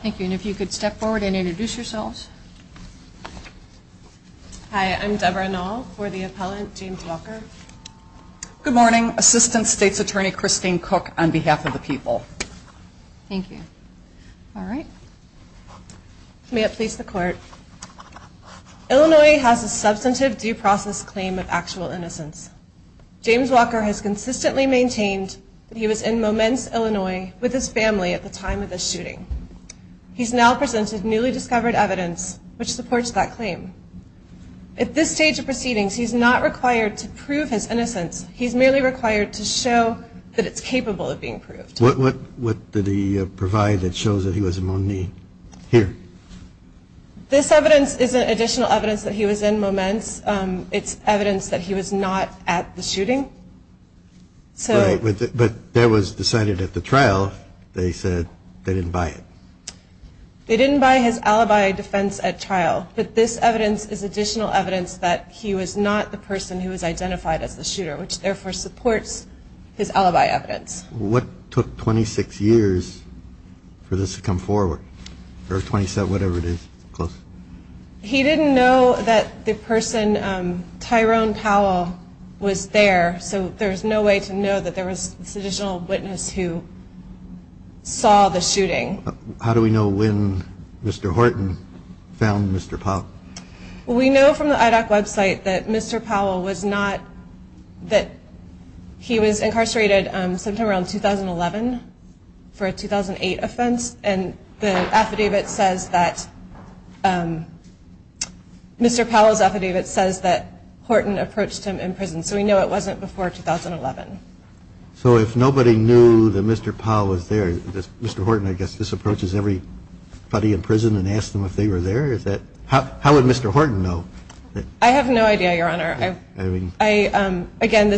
Thank you. And if you could step forward and introduce yourselves. Hi, I'm Debra Noll for the appellant James Walker. Good morning. Assistant State's Attorney Christine Cook on behalf of the people. Thank you. All right. May it please the court. Illinois has a substantive due process claim of actual innocence. James Walker has consistently maintained that he was in Moments, Illinois, with his family at the time of the shooting. He's now presented newly discovered evidence which supports that claim. At this stage of proceedings, he's not required to prove his innocence. He's merely required to show that it's capable of being proved. What did he provide that shows that he was among the here? This evidence is additional evidence that he was in Moments. It's evidence that he was not at the shooting. So but that was decided at the trial. They said they didn't buy it. They didn't buy his alibi defense at trial. But this evidence is additional evidence that he was not the person who was identified as the shooter, which therefore supports his alibi evidence. What took 26 years for this to come forward? Or 27, whatever it is. He didn't know that the person, Tyrone Powell, was there. So there's no way to know that there was this additional witness who saw the shooting. How do we know when Mr. Horton found Mr. Pop? We know from the IDOC website that Mr. Powell was not that he was incarcerated around 2011 for a 2008 offense. And the affidavit says that Mr. Powell's affidavit says that Horton approached him in prison. So we know it wasn't before 2011. So if nobody knew that Mr. Powell was there, Mr. Horton, I guess, this approaches everybody in prison and asked them if they were there. Is that how would Mr. Horton know? I have no idea, Your Honor. Again,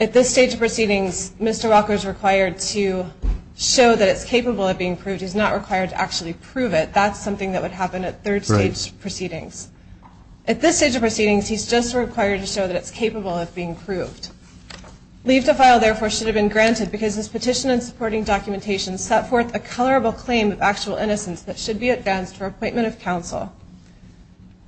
at this stage of proceedings, Mr. Walker is required to show that it's capable of being proved. He's not required to actually prove it. That's something that would happen at third stage proceedings. At this stage of proceedings, he's just required to show that it's capable of being proved. Leave to file, therefore, should have been granted because this petition and supporting documentation set forth a colorable claim of actual innocence that should be advanced for appointment of counsel.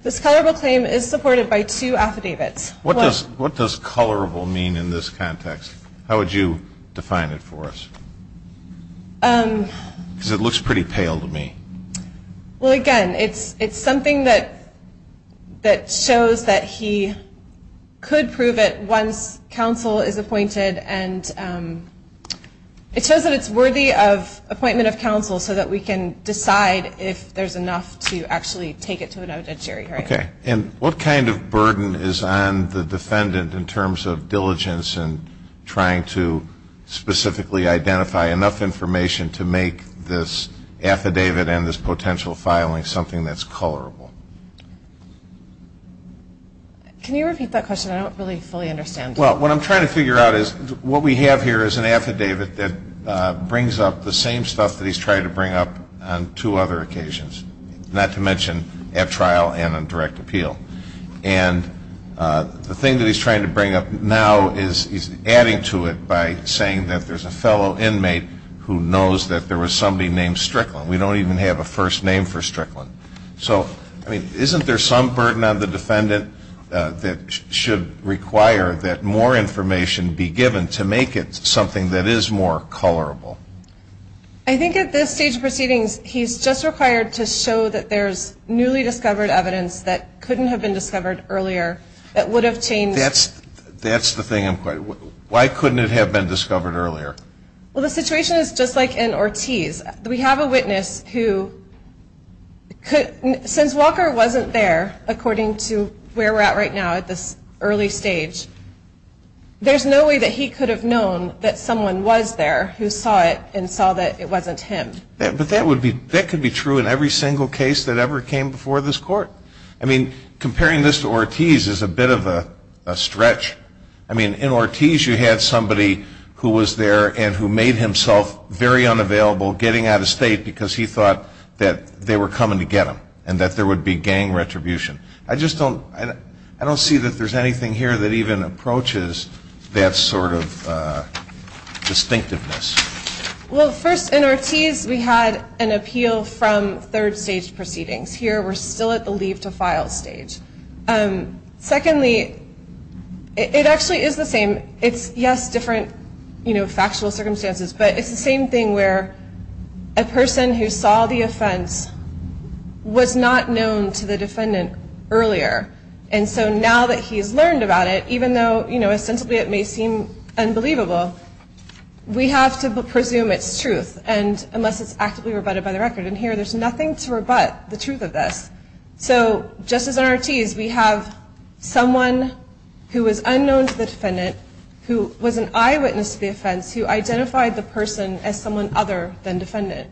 This colorable claim is supported by two affidavits. What does colorable mean in this context? How would you define it for us? Because it looks pretty pale to me. Well, again, it's something that shows that he could prove it once counsel is appointed. And it shows that it's worthy of appointment of counsel so that we can decide if there's enough to actually take it to a notary. Okay. And what kind of burden is on the defendant in terms of diligence and trying to specifically identify enough information to make this affidavit and this potential filing something that's colorable? Can you repeat that question? I don't really fully understand. Well, what I'm trying to figure out is what we have here is an affidavit that brings up the same stuff that he's tried to bring up on two other occasions, not to mention at trial and on direct appeal. And the thing that he's trying to bring up now is he's adding to it by saying that there's a fellow inmate who knows that there was somebody named Strickland. We don't even have a first name for Strickland. So, I mean, isn't there some burden on the defendant that should require that more information be given to make it something that is more colorable? I think at this stage of proceedings, he's just required to show that there's newly discovered evidence that couldn't have been discovered earlier that would have changed. That's the thing I'm questioning. Why couldn't it have been discovered earlier? Well, the situation is just like in Ortiz. We have a witness who could, since Walker wasn't there, according to where we're at right now at this early stage, there's no way that he could have known that someone was there who saw it and saw that it wasn't him. But that could be true in every single case that ever came before this Court. I mean, comparing this to Ortiz is a bit of a stretch. I mean, in Ortiz you had somebody who was there and who made himself very unavailable, getting out of state because he thought that they were coming to get him and that there would be gang retribution. I just don't see that there's anything here that even approaches that sort of distinctiveness. Well, first, in Ortiz we had an appeal from third stage proceedings. Here we're still at the leave to file stage. Secondly, it actually is the same. It's, yes, different factual circumstances, but it's the same thing where a person who saw the offense was not known to the defendant earlier. And so now that he's learned about it, even though ostensibly it may seem unbelievable, we have to presume it's truth unless it's actively rebutted by the record. And here there's nothing to rebut the truth of this. So just as in Ortiz, we have someone who was unknown to the defendant, who was an eyewitness to the offense, who identified the person as someone other than defendant.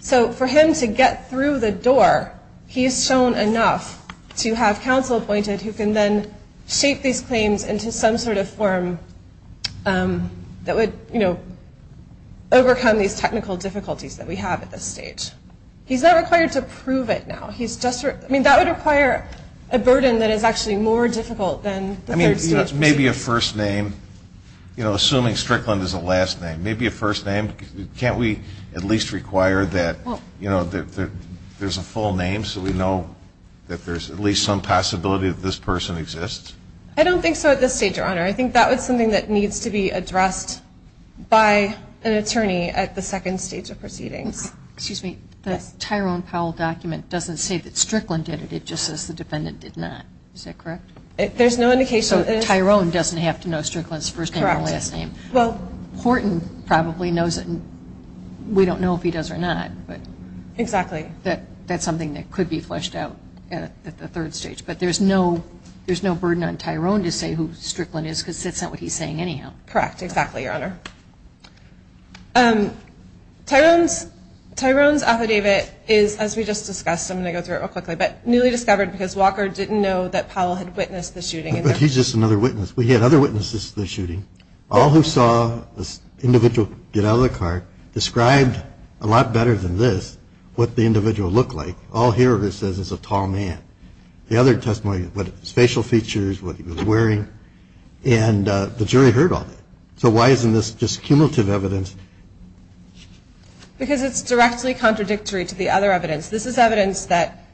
So for him to get through the door, he is shown enough to have counsel appointed who can then shape these claims into some sort of form that would, you know, overcome these technical difficulties that we have at this stage. He's not required to prove it now. I mean, that would require a burden that is actually more difficult than the third stage. Maybe a first name, you know, assuming Strickland is a last name. Maybe a first name. Can't we at least require that, you know, there's a full name so we know that there's at least some possibility that this person exists? I don't think so at this stage, Your Honor. I think that was something that needs to be addressed by an attorney at the second stage of proceedings. Excuse me. The Tyrone Powell document doesn't say that Strickland did it. It just says the defendant did not. Is that correct? There's no indication. So Tyrone doesn't have to know Strickland's first name and last name. Well, Horton probably knows it. We don't know if he does or not. Exactly. That's something that could be fleshed out at the third stage. But there's no burden on Tyrone to say who Strickland is because that's not what he's saying anyhow. Correct. Exactly, Your Honor. Tyrone's affidavit is, as we just discussed, I'm going to go through it real quickly, but newly discovered because Walker didn't know that Powell had witnessed the shooting. But he's just another witness. We had other witnesses to the shooting. All who saw this individual get out of the car described a lot better than this what the individual looked like. All here it says is a tall man. The other testimony, what facial features, what he was wearing, and the jury heard all that. So why isn't this just cumulative evidence? Because it's directly contradictory to the other evidence. This is evidence that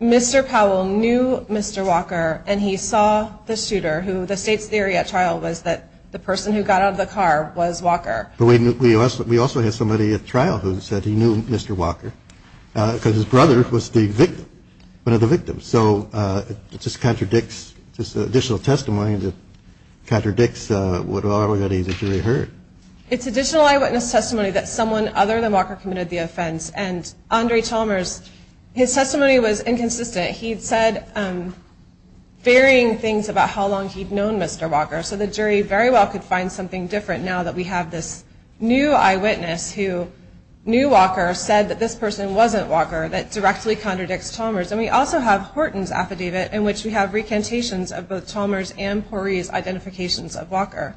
Mr. Powell knew Mr. Walker, and he saw the shooter who the state's theory at trial was that the person who got out of the car was Walker. But we also have somebody at trial who said he knew Mr. Walker because his brother was the victim, one of the victims. So it just contradicts this additional testimony that contradicts what already the jury heard. It's additional eyewitness testimony that someone other than Walker committed the offense. And Andre Chalmers, his testimony was inconsistent. He said varying things about how long he'd known Mr. Walker. So the jury very well could find something different now that we have this new eyewitness who knew Walker, said that this person wasn't Walker, that directly contradicts Chalmers. And we also have Horton's affidavit in which we have recantations of both Chalmers and Pori's identifications of Walker.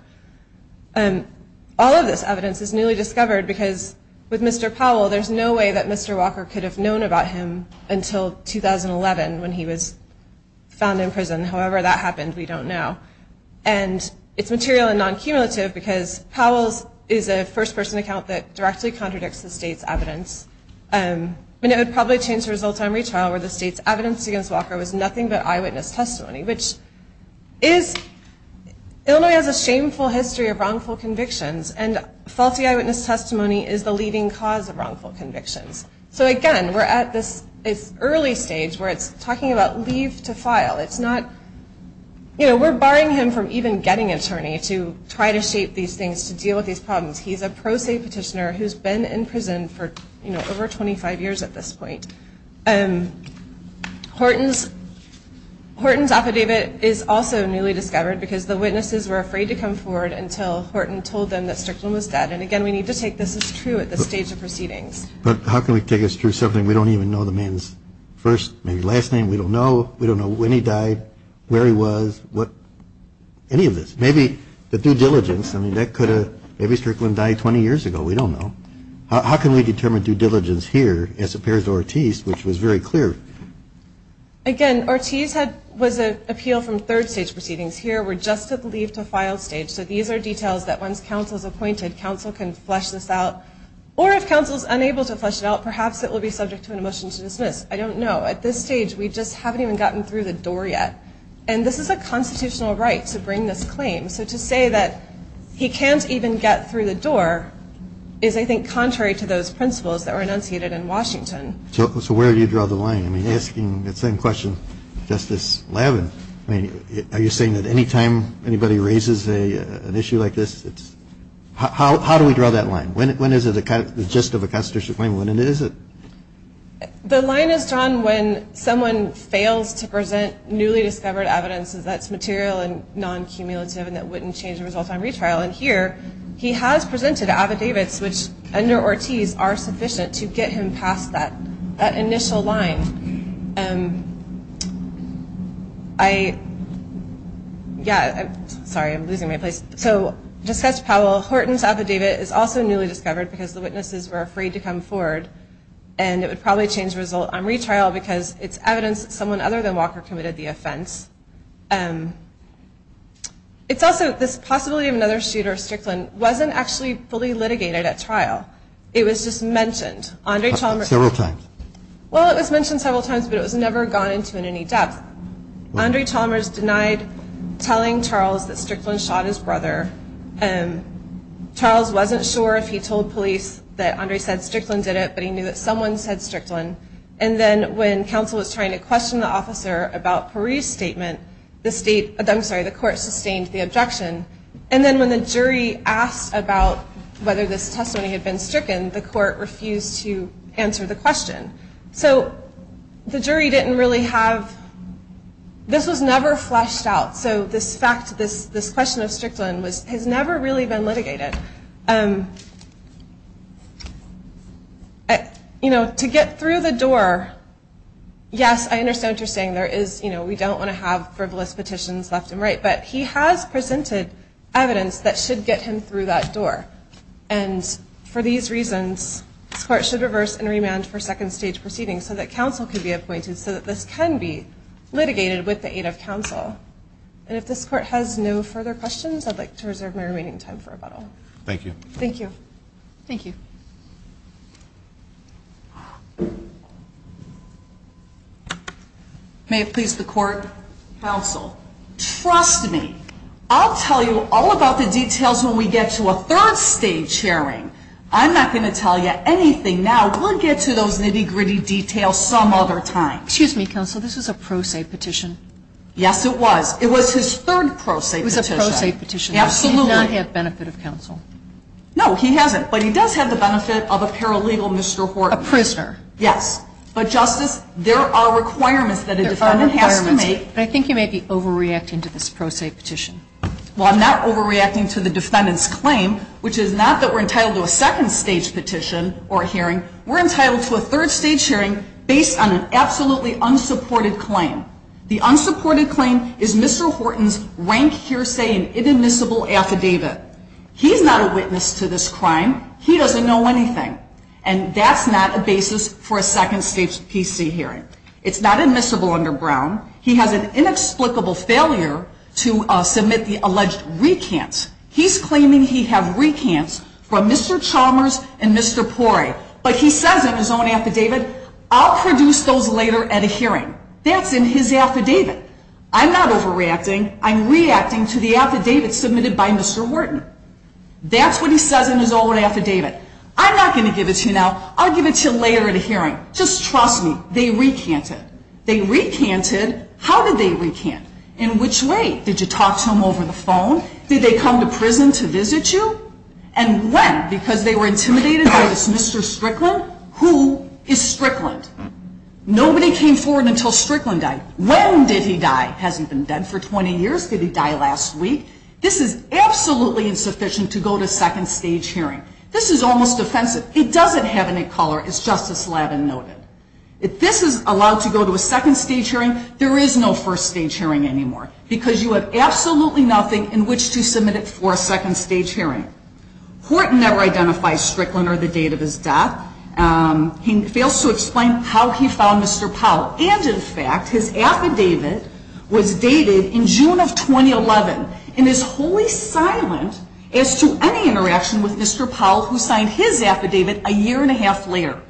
And all of this evidence is newly discovered because with Mr. Powell, there's no way that Mr. Walker could have known about him until 2011 when he was found in prison. However, that happened, we don't know. And it's material and non-cumulative because Powell's is a first person account that directly contradicts the state's evidence. And it would probably change the results on retrial where the state's evidence against Walker was nothing but eyewitness testimony, which is, Illinois has a shameful history of wrongful convictions, and faulty eyewitness testimony is the leading cause of wrongful convictions. So again, we're at this early stage where it's talking about leave to file. It's not, you know, we're barring him from even getting an attorney to try to shape these things, to deal with these problems. He's a pro se petitioner who's been in prison for, you know, over 25 years at this point. And Horton's affidavit is also newly discovered because the witnesses were afraid to come forward until Horton told them that Strickland was dead. And again, we need to take this as true at this stage of proceedings. But how can we take this through something we don't even know the man's first, maybe last name? We don't know. We don't know when he died, where he was, any of this. Maybe the due diligence, I mean, that could have, maybe Strickland died 20 years ago. We don't know. How can we determine due diligence here, as appears to Ortiz, which was very clear? Again, Ortiz was an appeal from third stage proceedings. Here we're just at the leave to file stage. So these are details that once counsel is appointed, counsel can flesh this out. Or if counsel is unable to flesh it out, perhaps it will be subject to a motion to dismiss. I don't know. At this stage, we just haven't even gotten through the door yet. And this is a constitutional right to bring this claim. So to say that he can't even get through the door is, I think, contrary to those principles that were enunciated in Washington. So where do you draw the line? I mean, asking the same question, Justice Lavin, I mean, are you saying that any time anybody raises an issue like this, it's how do we draw that line? When is it the gist of a constitutional claim? When is it? The line is drawn when someone fails to present newly discovered evidence that's material and non-cumulative and that wouldn't change the result on retrial. And here, he has presented affidavits which, under Ortiz, are sufficient to get him past that initial line. Sorry, I'm losing my place. So Dispatch Powell, Horton's affidavit is also newly discovered because the witnesses were afraid to come forward, and it would probably change the result on retrial because it's evidence that someone other than Walker committed the offense. It's also this possibility of another shooter, Strickland, wasn't actually fully litigated at trial. It was just mentioned. Andre Chalmers. Several times. Well, it was mentioned several times, but it was never gone into in any depth. Andre Chalmers denied telling Charles that Strickland shot his brother. Charles wasn't sure if he told police that Andre said Strickland did it, but he knew that someone said Strickland. And then when counsel was trying to question the officer about Parise's statement, the court sustained the objection. And then when the jury asked about whether this testimony had been stricken, the court refused to answer the question. So the jury didn't really have this was never fleshed out. So this question of Strickland has never really been litigated. To get through the door, yes, I understand what you're saying. We don't want to have frivolous petitions left and right, but he has presented evidence that should get him through that door. And for these reasons, this court should reverse and remand for second stage proceedings so that counsel could be appointed so that this can be litigated with the aid of counsel. And if this court has no further questions, I'd like to reserve my remaining time for rebuttal. Thank you. Thank you. Thank you. May it please the court. Counsel, trust me, I'll tell you all about the details when we get to a third stage hearing. I'm not going to tell you anything now. We'll get to those nitty gritty details some other time. Excuse me, counsel, this was a pro se petition. Yes, it was. It was his third pro se petition. It was a pro se petition. Absolutely. He does not have benefit of counsel. No, he hasn't. But he does have the benefit of a paralegal, Mr. Horton. A prisoner. Yes. But, Justice, there are requirements that a defendant has to make. But I think you may be overreacting to this pro se petition. Well, I'm not overreacting to the defendant's claim, which is not that we're entitled to a second stage petition or hearing. We're entitled to a third stage hearing based on an absolutely unsupported claim. The unsupported claim is Mr. Horton's rank hearsay and inadmissible affidavit. He's not a witness to this crime. He doesn't know anything. And that's not a basis for a second stage PC hearing. It's not admissible under Brown. He has an inexplicable failure to submit the alleged recants. He's claiming he have recants from Mr. Chalmers and Mr. Poray. But he says in his own affidavit, I'll produce those later at a hearing. That's in his affidavit. I'm not overreacting. I'm reacting to the affidavit submitted by Mr. Horton. That's what he says in his own affidavit. I'm not going to give it to you now. I'll give it to you later at a hearing. Just trust me. They recanted. They recanted. How did they recant? In which way? Did you talk to them over the phone? Did they come to prison to visit you? And when? Because they were intimidated by this Mr. Strickland? Who is Strickland? Nobody came forward until Strickland died. When did he die? Has he been dead for 20 years? Did he die last week? This is absolutely insufficient to go to a second-stage hearing. This is almost offensive. It doesn't have any color, as Justice Lavin noted. If this is allowed to go to a second-stage hearing, there is no first-stage hearing anymore because you have absolutely nothing in which to submit it for a second-stage hearing. Horton never identifies Strickland or the date of his death. He fails to explain how he found Mr. Powell. And, in fact, his affidavit was dated in June of 2011, and is wholly silent as to any interaction with Mr. Powell, who signed his affidavit a year-and-a-half later.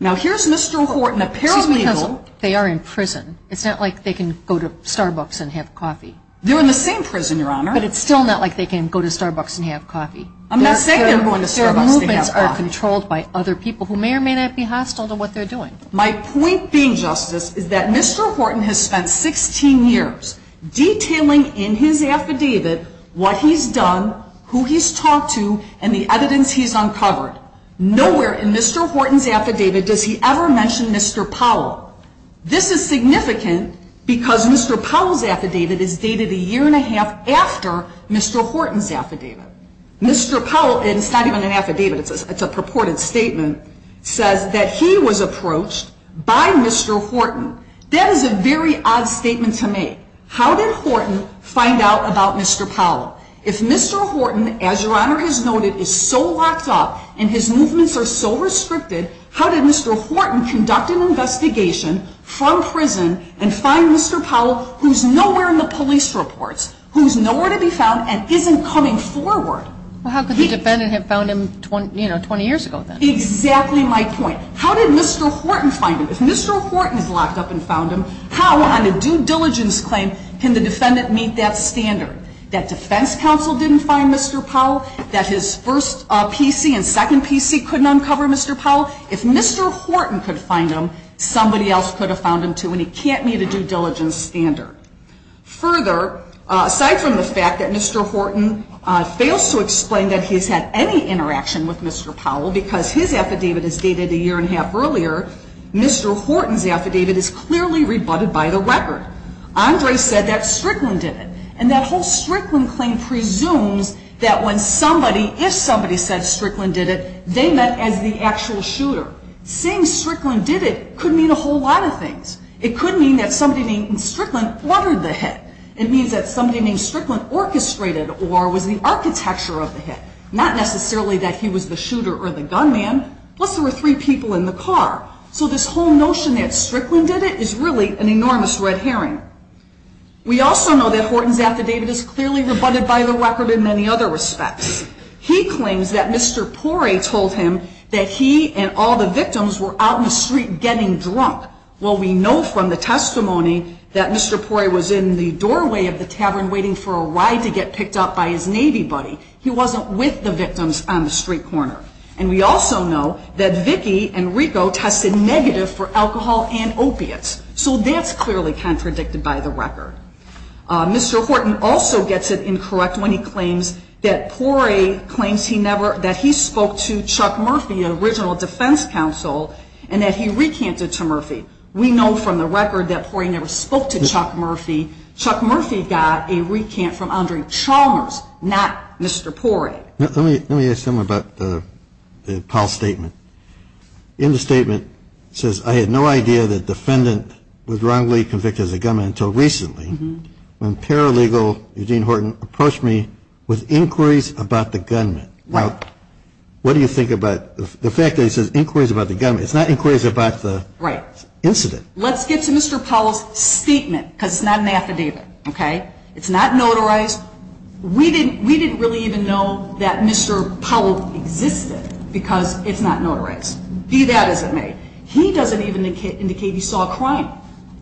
Now, here's Mr. Horton, apparently he will. Because they are in prison. It's not like they can go to Starbucks and have coffee. They're in the same prison, Your Honor. But it's still not like they can go to Starbucks and have coffee. I'm not saying they're going to Starbucks and have coffee. Their movements are controlled by other people who may or may not be hostile to what they're doing. My point being, Justice, is that Mr. Horton has spent 16 years detailing in his affidavit what he's done, who he's talked to, and the evidence he's uncovered. Nowhere in Mr. Horton's affidavit does he ever mention Mr. Powell. This is significant because Mr. Powell's affidavit is dated a year-and-a-half after Mr. Horton's affidavit. Mr. Powell, and it's not even an affidavit, it's a purported statement, says that he was approached by Mr. Horton. That is a very odd statement to make. How did Horton find out about Mr. Powell? If Mr. Horton, as Your Honor has noted, is so locked up and his movements are so restricted, how did Mr. Horton conduct an investigation from prison and find Mr. Powell, who's nowhere in the police reports, who's nowhere to be found and isn't coming forward? Well, how could the defendant have found him, you know, 20 years ago then? Exactly my point. How did Mr. Horton find him? If Mr. Horton is locked up and found him, how on a due diligence claim can the defendant meet that standard, that defense counsel didn't find Mr. Powell, that his first PC and second PC couldn't uncover Mr. Powell? If Mr. Horton could find him, somebody else could have found him too, and he can't meet a due diligence standard. Further, aside from the fact that Mr. Horton fails to explain that he's had any interaction with Mr. Powell because his affidavit is dated a year and a half earlier, Mr. Horton's affidavit is clearly rebutted by the record. Andre said that Strickland did it, and that whole Strickland claim presumes that when somebody, if somebody said Strickland did it, they meant as the actual shooter. Saying Strickland did it could mean a whole lot of things. It could mean that somebody named Strickland ordered the hit. It means that somebody named Strickland orchestrated or was the architecture of the hit, not necessarily that he was the shooter or the gunman, plus there were three people in the car. So this whole notion that Strickland did it is really an enormous red herring. We also know that Horton's affidavit is clearly rebutted by the record in many other respects. He claims that Mr. Poray told him that he and all the victims were out in the street getting drunk. Well, we know from the testimony that Mr. Poray was in the doorway of the tavern waiting for a ride to get picked up by his Navy buddy. He wasn't with the victims on the street corner. And we also know that Vicki and Rico tested negative for alcohol and opiates. So that's clearly contradicted by the record. Mr. Horton also gets it incorrect when he claims that Poray claims that he spoke to Chuck Murphy, an original defense counsel, and that he recanted to Murphy. We know from the record that Poray never spoke to Chuck Murphy. Chuck Murphy got a recant from Andre Chalmers, not Mr. Poray. Let me ask you something about the Powell statement. In the statement, it says, I had no idea that the defendant was wrongly convicted as a gunman until recently when paralegal Eugene Horton approached me with inquiries about the gunman. Now, what do you think about the fact that he says inquiries about the gunman? It's not inquiries about the incident. Right. Let's get to Mr. Powell's statement because it's not an affidavit. Okay? It's not notarized. We didn't really even know that Mr. Powell existed because it's not notarized. Be that as it may, he doesn't even indicate he saw a crime.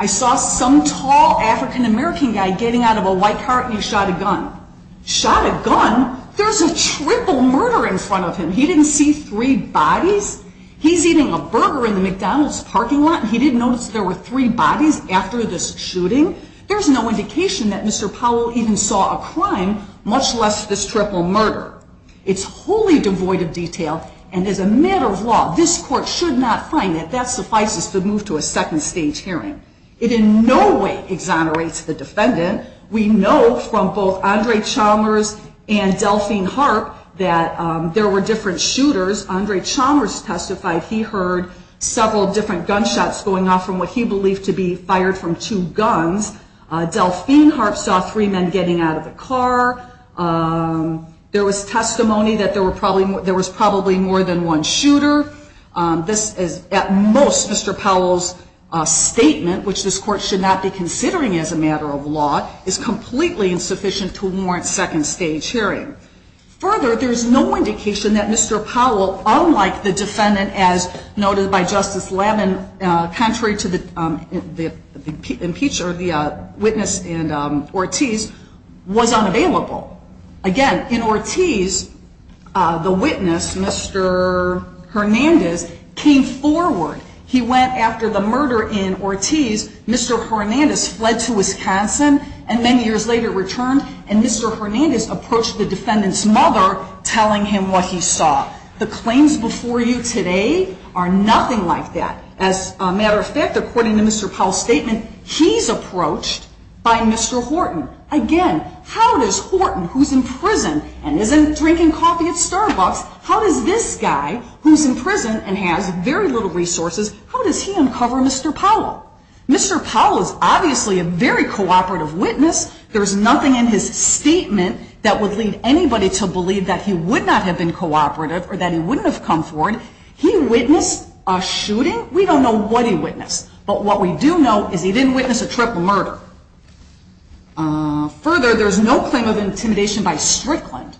I saw some tall African-American guy getting out of a white car and he shot a gun. Shot a gun? There's a triple murder in front of him. He didn't see three bodies? He's eating a burger in the McDonald's parking lot and he didn't notice there were three bodies after this shooting? There's no indication that Mr. Powell even saw a crime, much less this triple murder. It's wholly devoid of detail and as a matter of law, this court should not find that that suffices to move to a second stage hearing. It in no way exonerates the defendant. We know from both Andre Chalmers and Delphine Harp that there were different shooters. Andre Chalmers testified he heard several different gunshots going off from what he believed to be fired from two guns. Delphine Harp saw three men getting out of the car. There was testimony that there was probably more than one shooter. This is, at most, Mr. Powell's statement, which this court should not be considering as a matter of law, is completely insufficient to warrant second stage hearing. Further, there's no indication that Mr. Powell, unlike the defendant, as noted by Justice Levin, contrary to the witness in Ortiz, was unavailable. Again, in Ortiz, the witness, Mr. Hernandez, came forward. He went after the murder in Ortiz. Mr. Hernandez fled to Wisconsin and many years later returned, and Mr. Hernandez approached the defendant's mother telling him what he saw. The claims before you today are nothing like that. As a matter of fact, according to Mr. Powell's statement, he's approached by Mr. Horton. Again, how does Horton, who's in prison and isn't drinking coffee at Starbucks, how does this guy, who's in prison and has very little resources, how does he uncover Mr. Powell? Mr. Powell is obviously a very cooperative witness. There's nothing in his statement that would lead anybody to believe that he would not have been cooperative or that he wouldn't have come forward. He witnessed a shooting. We don't know what he witnessed. But what we do know is he didn't witness a triple murder. Further, there's no claim of intimidation by Strickland.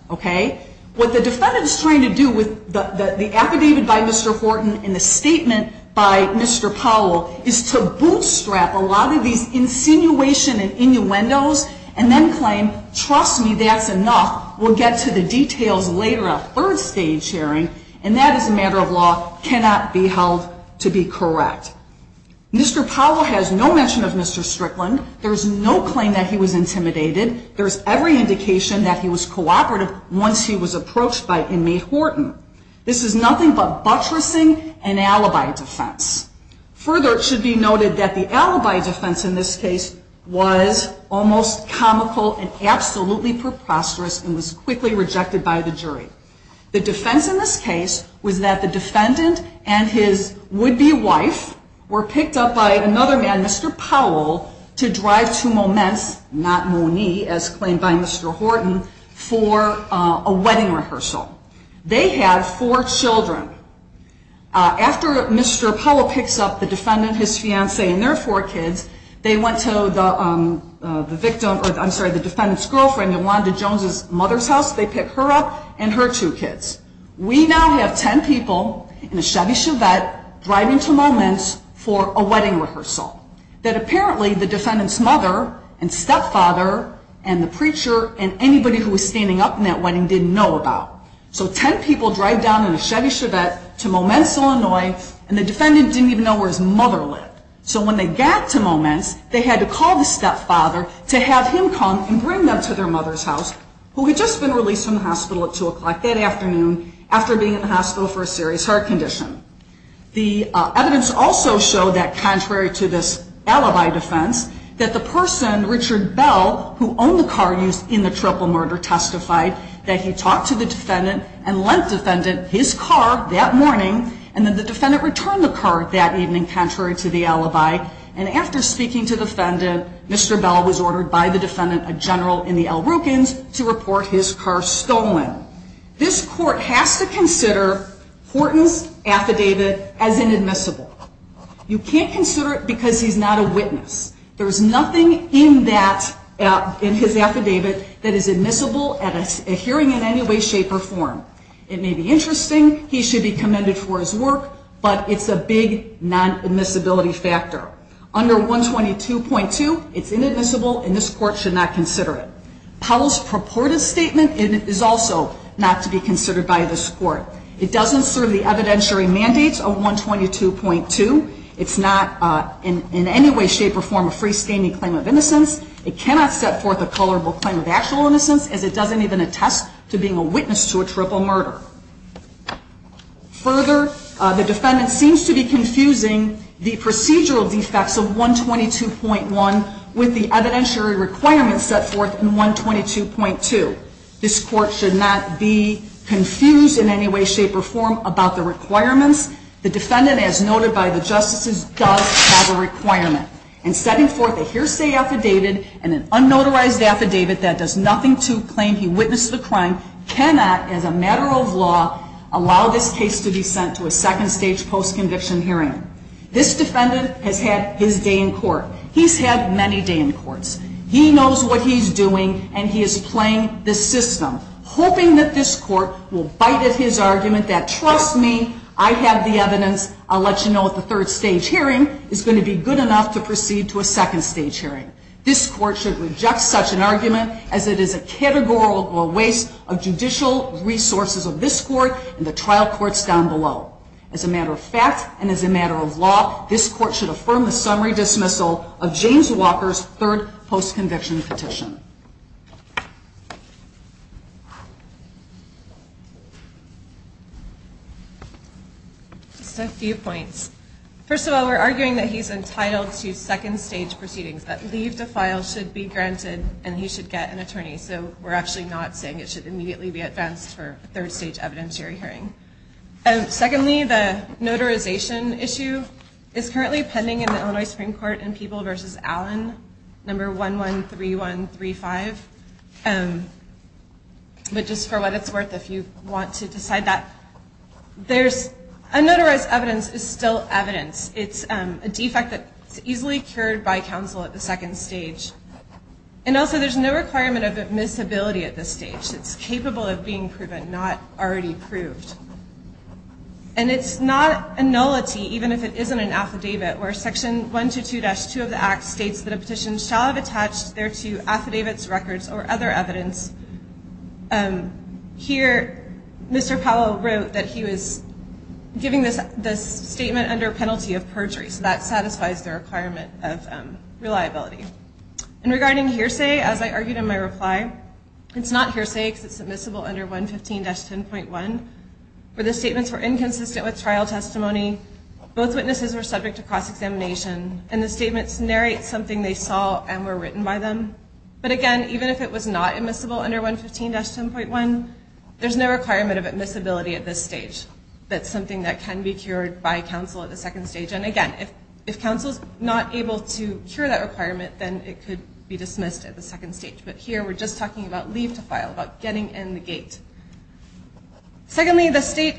What the defendant is trying to do with the affidavit by Mr. Horton and the statement by Mr. Powell is to bootstrap a lot of these insinuation and innuendos and then claim, trust me, that's enough. We'll get to the details later in a third stage hearing, and that as a matter of law cannot be held to be correct. Mr. Powell has no mention of Mr. Strickland. There's no claim that he was intimidated. There's every indication that he was cooperative once he was approached by inmate Horton. This is nothing but buttressing and alibi defense. Further, it should be noted that the alibi defense in this case was almost comical and absolutely preposterous and was quickly rejected by the jury. The defense in this case was that the defendant and his would-be wife were picked up by another man, Mr. Powell, to drive to Moments, not Mooney, as claimed by Mr. Horton, for a wedding rehearsal. They have four children. After Mr. Powell picks up the defendant, his fiancée, and their four kids, they went to the defendant's girlfriend, Yolanda Jones's mother's house. They picked her up and her two kids. We now have ten people in a Chevy Chevette driving to Moments for a wedding rehearsal that apparently the defendant's mother and stepfather and the preacher and anybody who was standing up in that wedding didn't know about. So ten people drive down in a Chevy Chevette to Moments, Illinois, and the defendant didn't even know where his mother lived. So when they got to Moments, they had to call the stepfather to have him come and bring them to their mother's house, who had just been released from the hospital at 2 o'clock that afternoon after being in the hospital for a serious heart condition. The evidence also showed that, contrary to this alibi defense, that the person, Richard Bell, who owned the car used in the triple murder, testified that he talked to the defendant and lent defendant his car that morning and that the defendant returned the car that evening contrary to the alibi. And after speaking to the defendant, Mr. Bell was ordered by the defendant, a general in the El Rukens, to report his car stolen. This court has to consider Horton's affidavit as inadmissible. You can't consider it because he's not a witness. There's nothing in his affidavit that is admissible at a hearing in any way, shape, or form. It may be interesting, he should be commended for his work, but it's a big non-admissibility factor. Under 122.2, it's inadmissible, and this court should not consider it. Powell's purported statement is also not to be considered by this court. It doesn't serve the evidentiary mandates of 122.2. It's not in any way, shape, or form a freestanding claim of innocence. It cannot set forth a colorable claim of actual innocence, as it doesn't even attest to being a witness to a triple murder. Further, the defendant seems to be confusing the procedural defects of 122.1 with the evidentiary requirements set forth in 122.2. This court should not be confused in any way, shape, or form about the requirements. The defendant, as noted by the justices, does have a requirement. And setting forth a hearsay affidavit and an unnotarized affidavit that does nothing to claim he witnessed the crime, cannot, as a matter of law, allow this case to be sent to a second stage post-conviction hearing. This defendant has had his day in court. He's had many day in courts. He knows what he's doing, and he is playing this system, hoping that this court will bite at his argument that, trust me, I have the evidence, I'll let you know at the third stage hearing, is going to be good enough to proceed to a second stage hearing. This court should reject such an argument, as it is a categorical waste of judicial resources of this court and the trial courts down below. As a matter of fact, and as a matter of law, this court should affirm the summary dismissal of James Walker's third post-conviction petition. Just a few points. First of all, we're arguing that he's entitled to second stage proceedings, that leave to file should be granted, and he should get an attorney. So we're actually not saying it should immediately be advanced for a third stage evidentiary hearing. Secondly, the notarization issue is currently pending in the Illinois Supreme Court in People v. Allen, number 113135. But just for what it's worth, if you want to decide that, unnotarized evidence is still evidence. It's a defect that's easily cured by counsel at the second stage. And also, there's no requirement of admissibility at this stage. It's capable of being proven, not already proved. And it's not a nullity, even if it isn't an affidavit, where Section 122-2 of the Act states that a petition shall have attached thereto affidavits, records, or other evidence. Here, Mr. Powell wrote that he was giving this statement under penalty of perjury, so that satisfies the requirement of reliability. And regarding hearsay, as I argued in my reply, it's not hearsay because it's admissible under 115-10.1, where the statements were inconsistent with trial testimony. Both witnesses were subject to cross-examination, and the statements narrate something they saw and were written by them. But again, even if it was not admissible under 115-10.1, there's no requirement of admissibility at this stage. That's something that can be cured by counsel at the second stage. And again, if counsel's not able to cure that requirement, then it could be dismissed at the second stage. But here, we're just talking about leave to file, about getting in the gate. Secondly, the state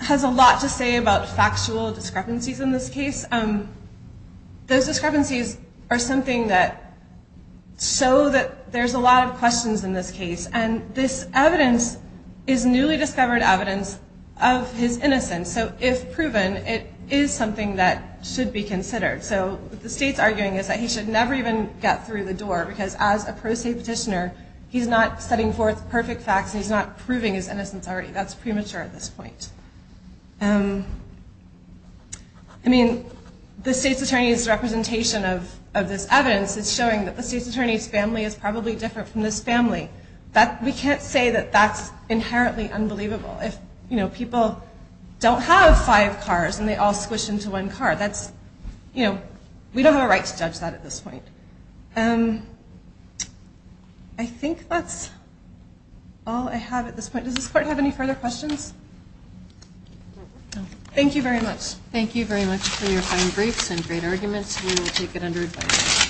has a lot to say about factual discrepancies in this case. Those discrepancies are something that show that there's a lot of questions in this case, and this evidence is newly discovered evidence of his innocence. So if proven, it is something that should be considered. So what the state's arguing is that he should never even get through the door, because as a pro se petitioner, he's not setting forth perfect facts, and he's not proving his innocence already. That's premature at this point. I mean, the state's attorney's representation of this evidence is showing that the state's attorney's family is probably different from this family. We can't say that that's inherently unbelievable. If people don't have five cars and they all squish into one car, we don't have a right to judge that at this point. I think that's all I have at this point. Does this court have any further questions? Thank you very much. Thank you very much for your fine briefs and great arguments. We will take it under advice.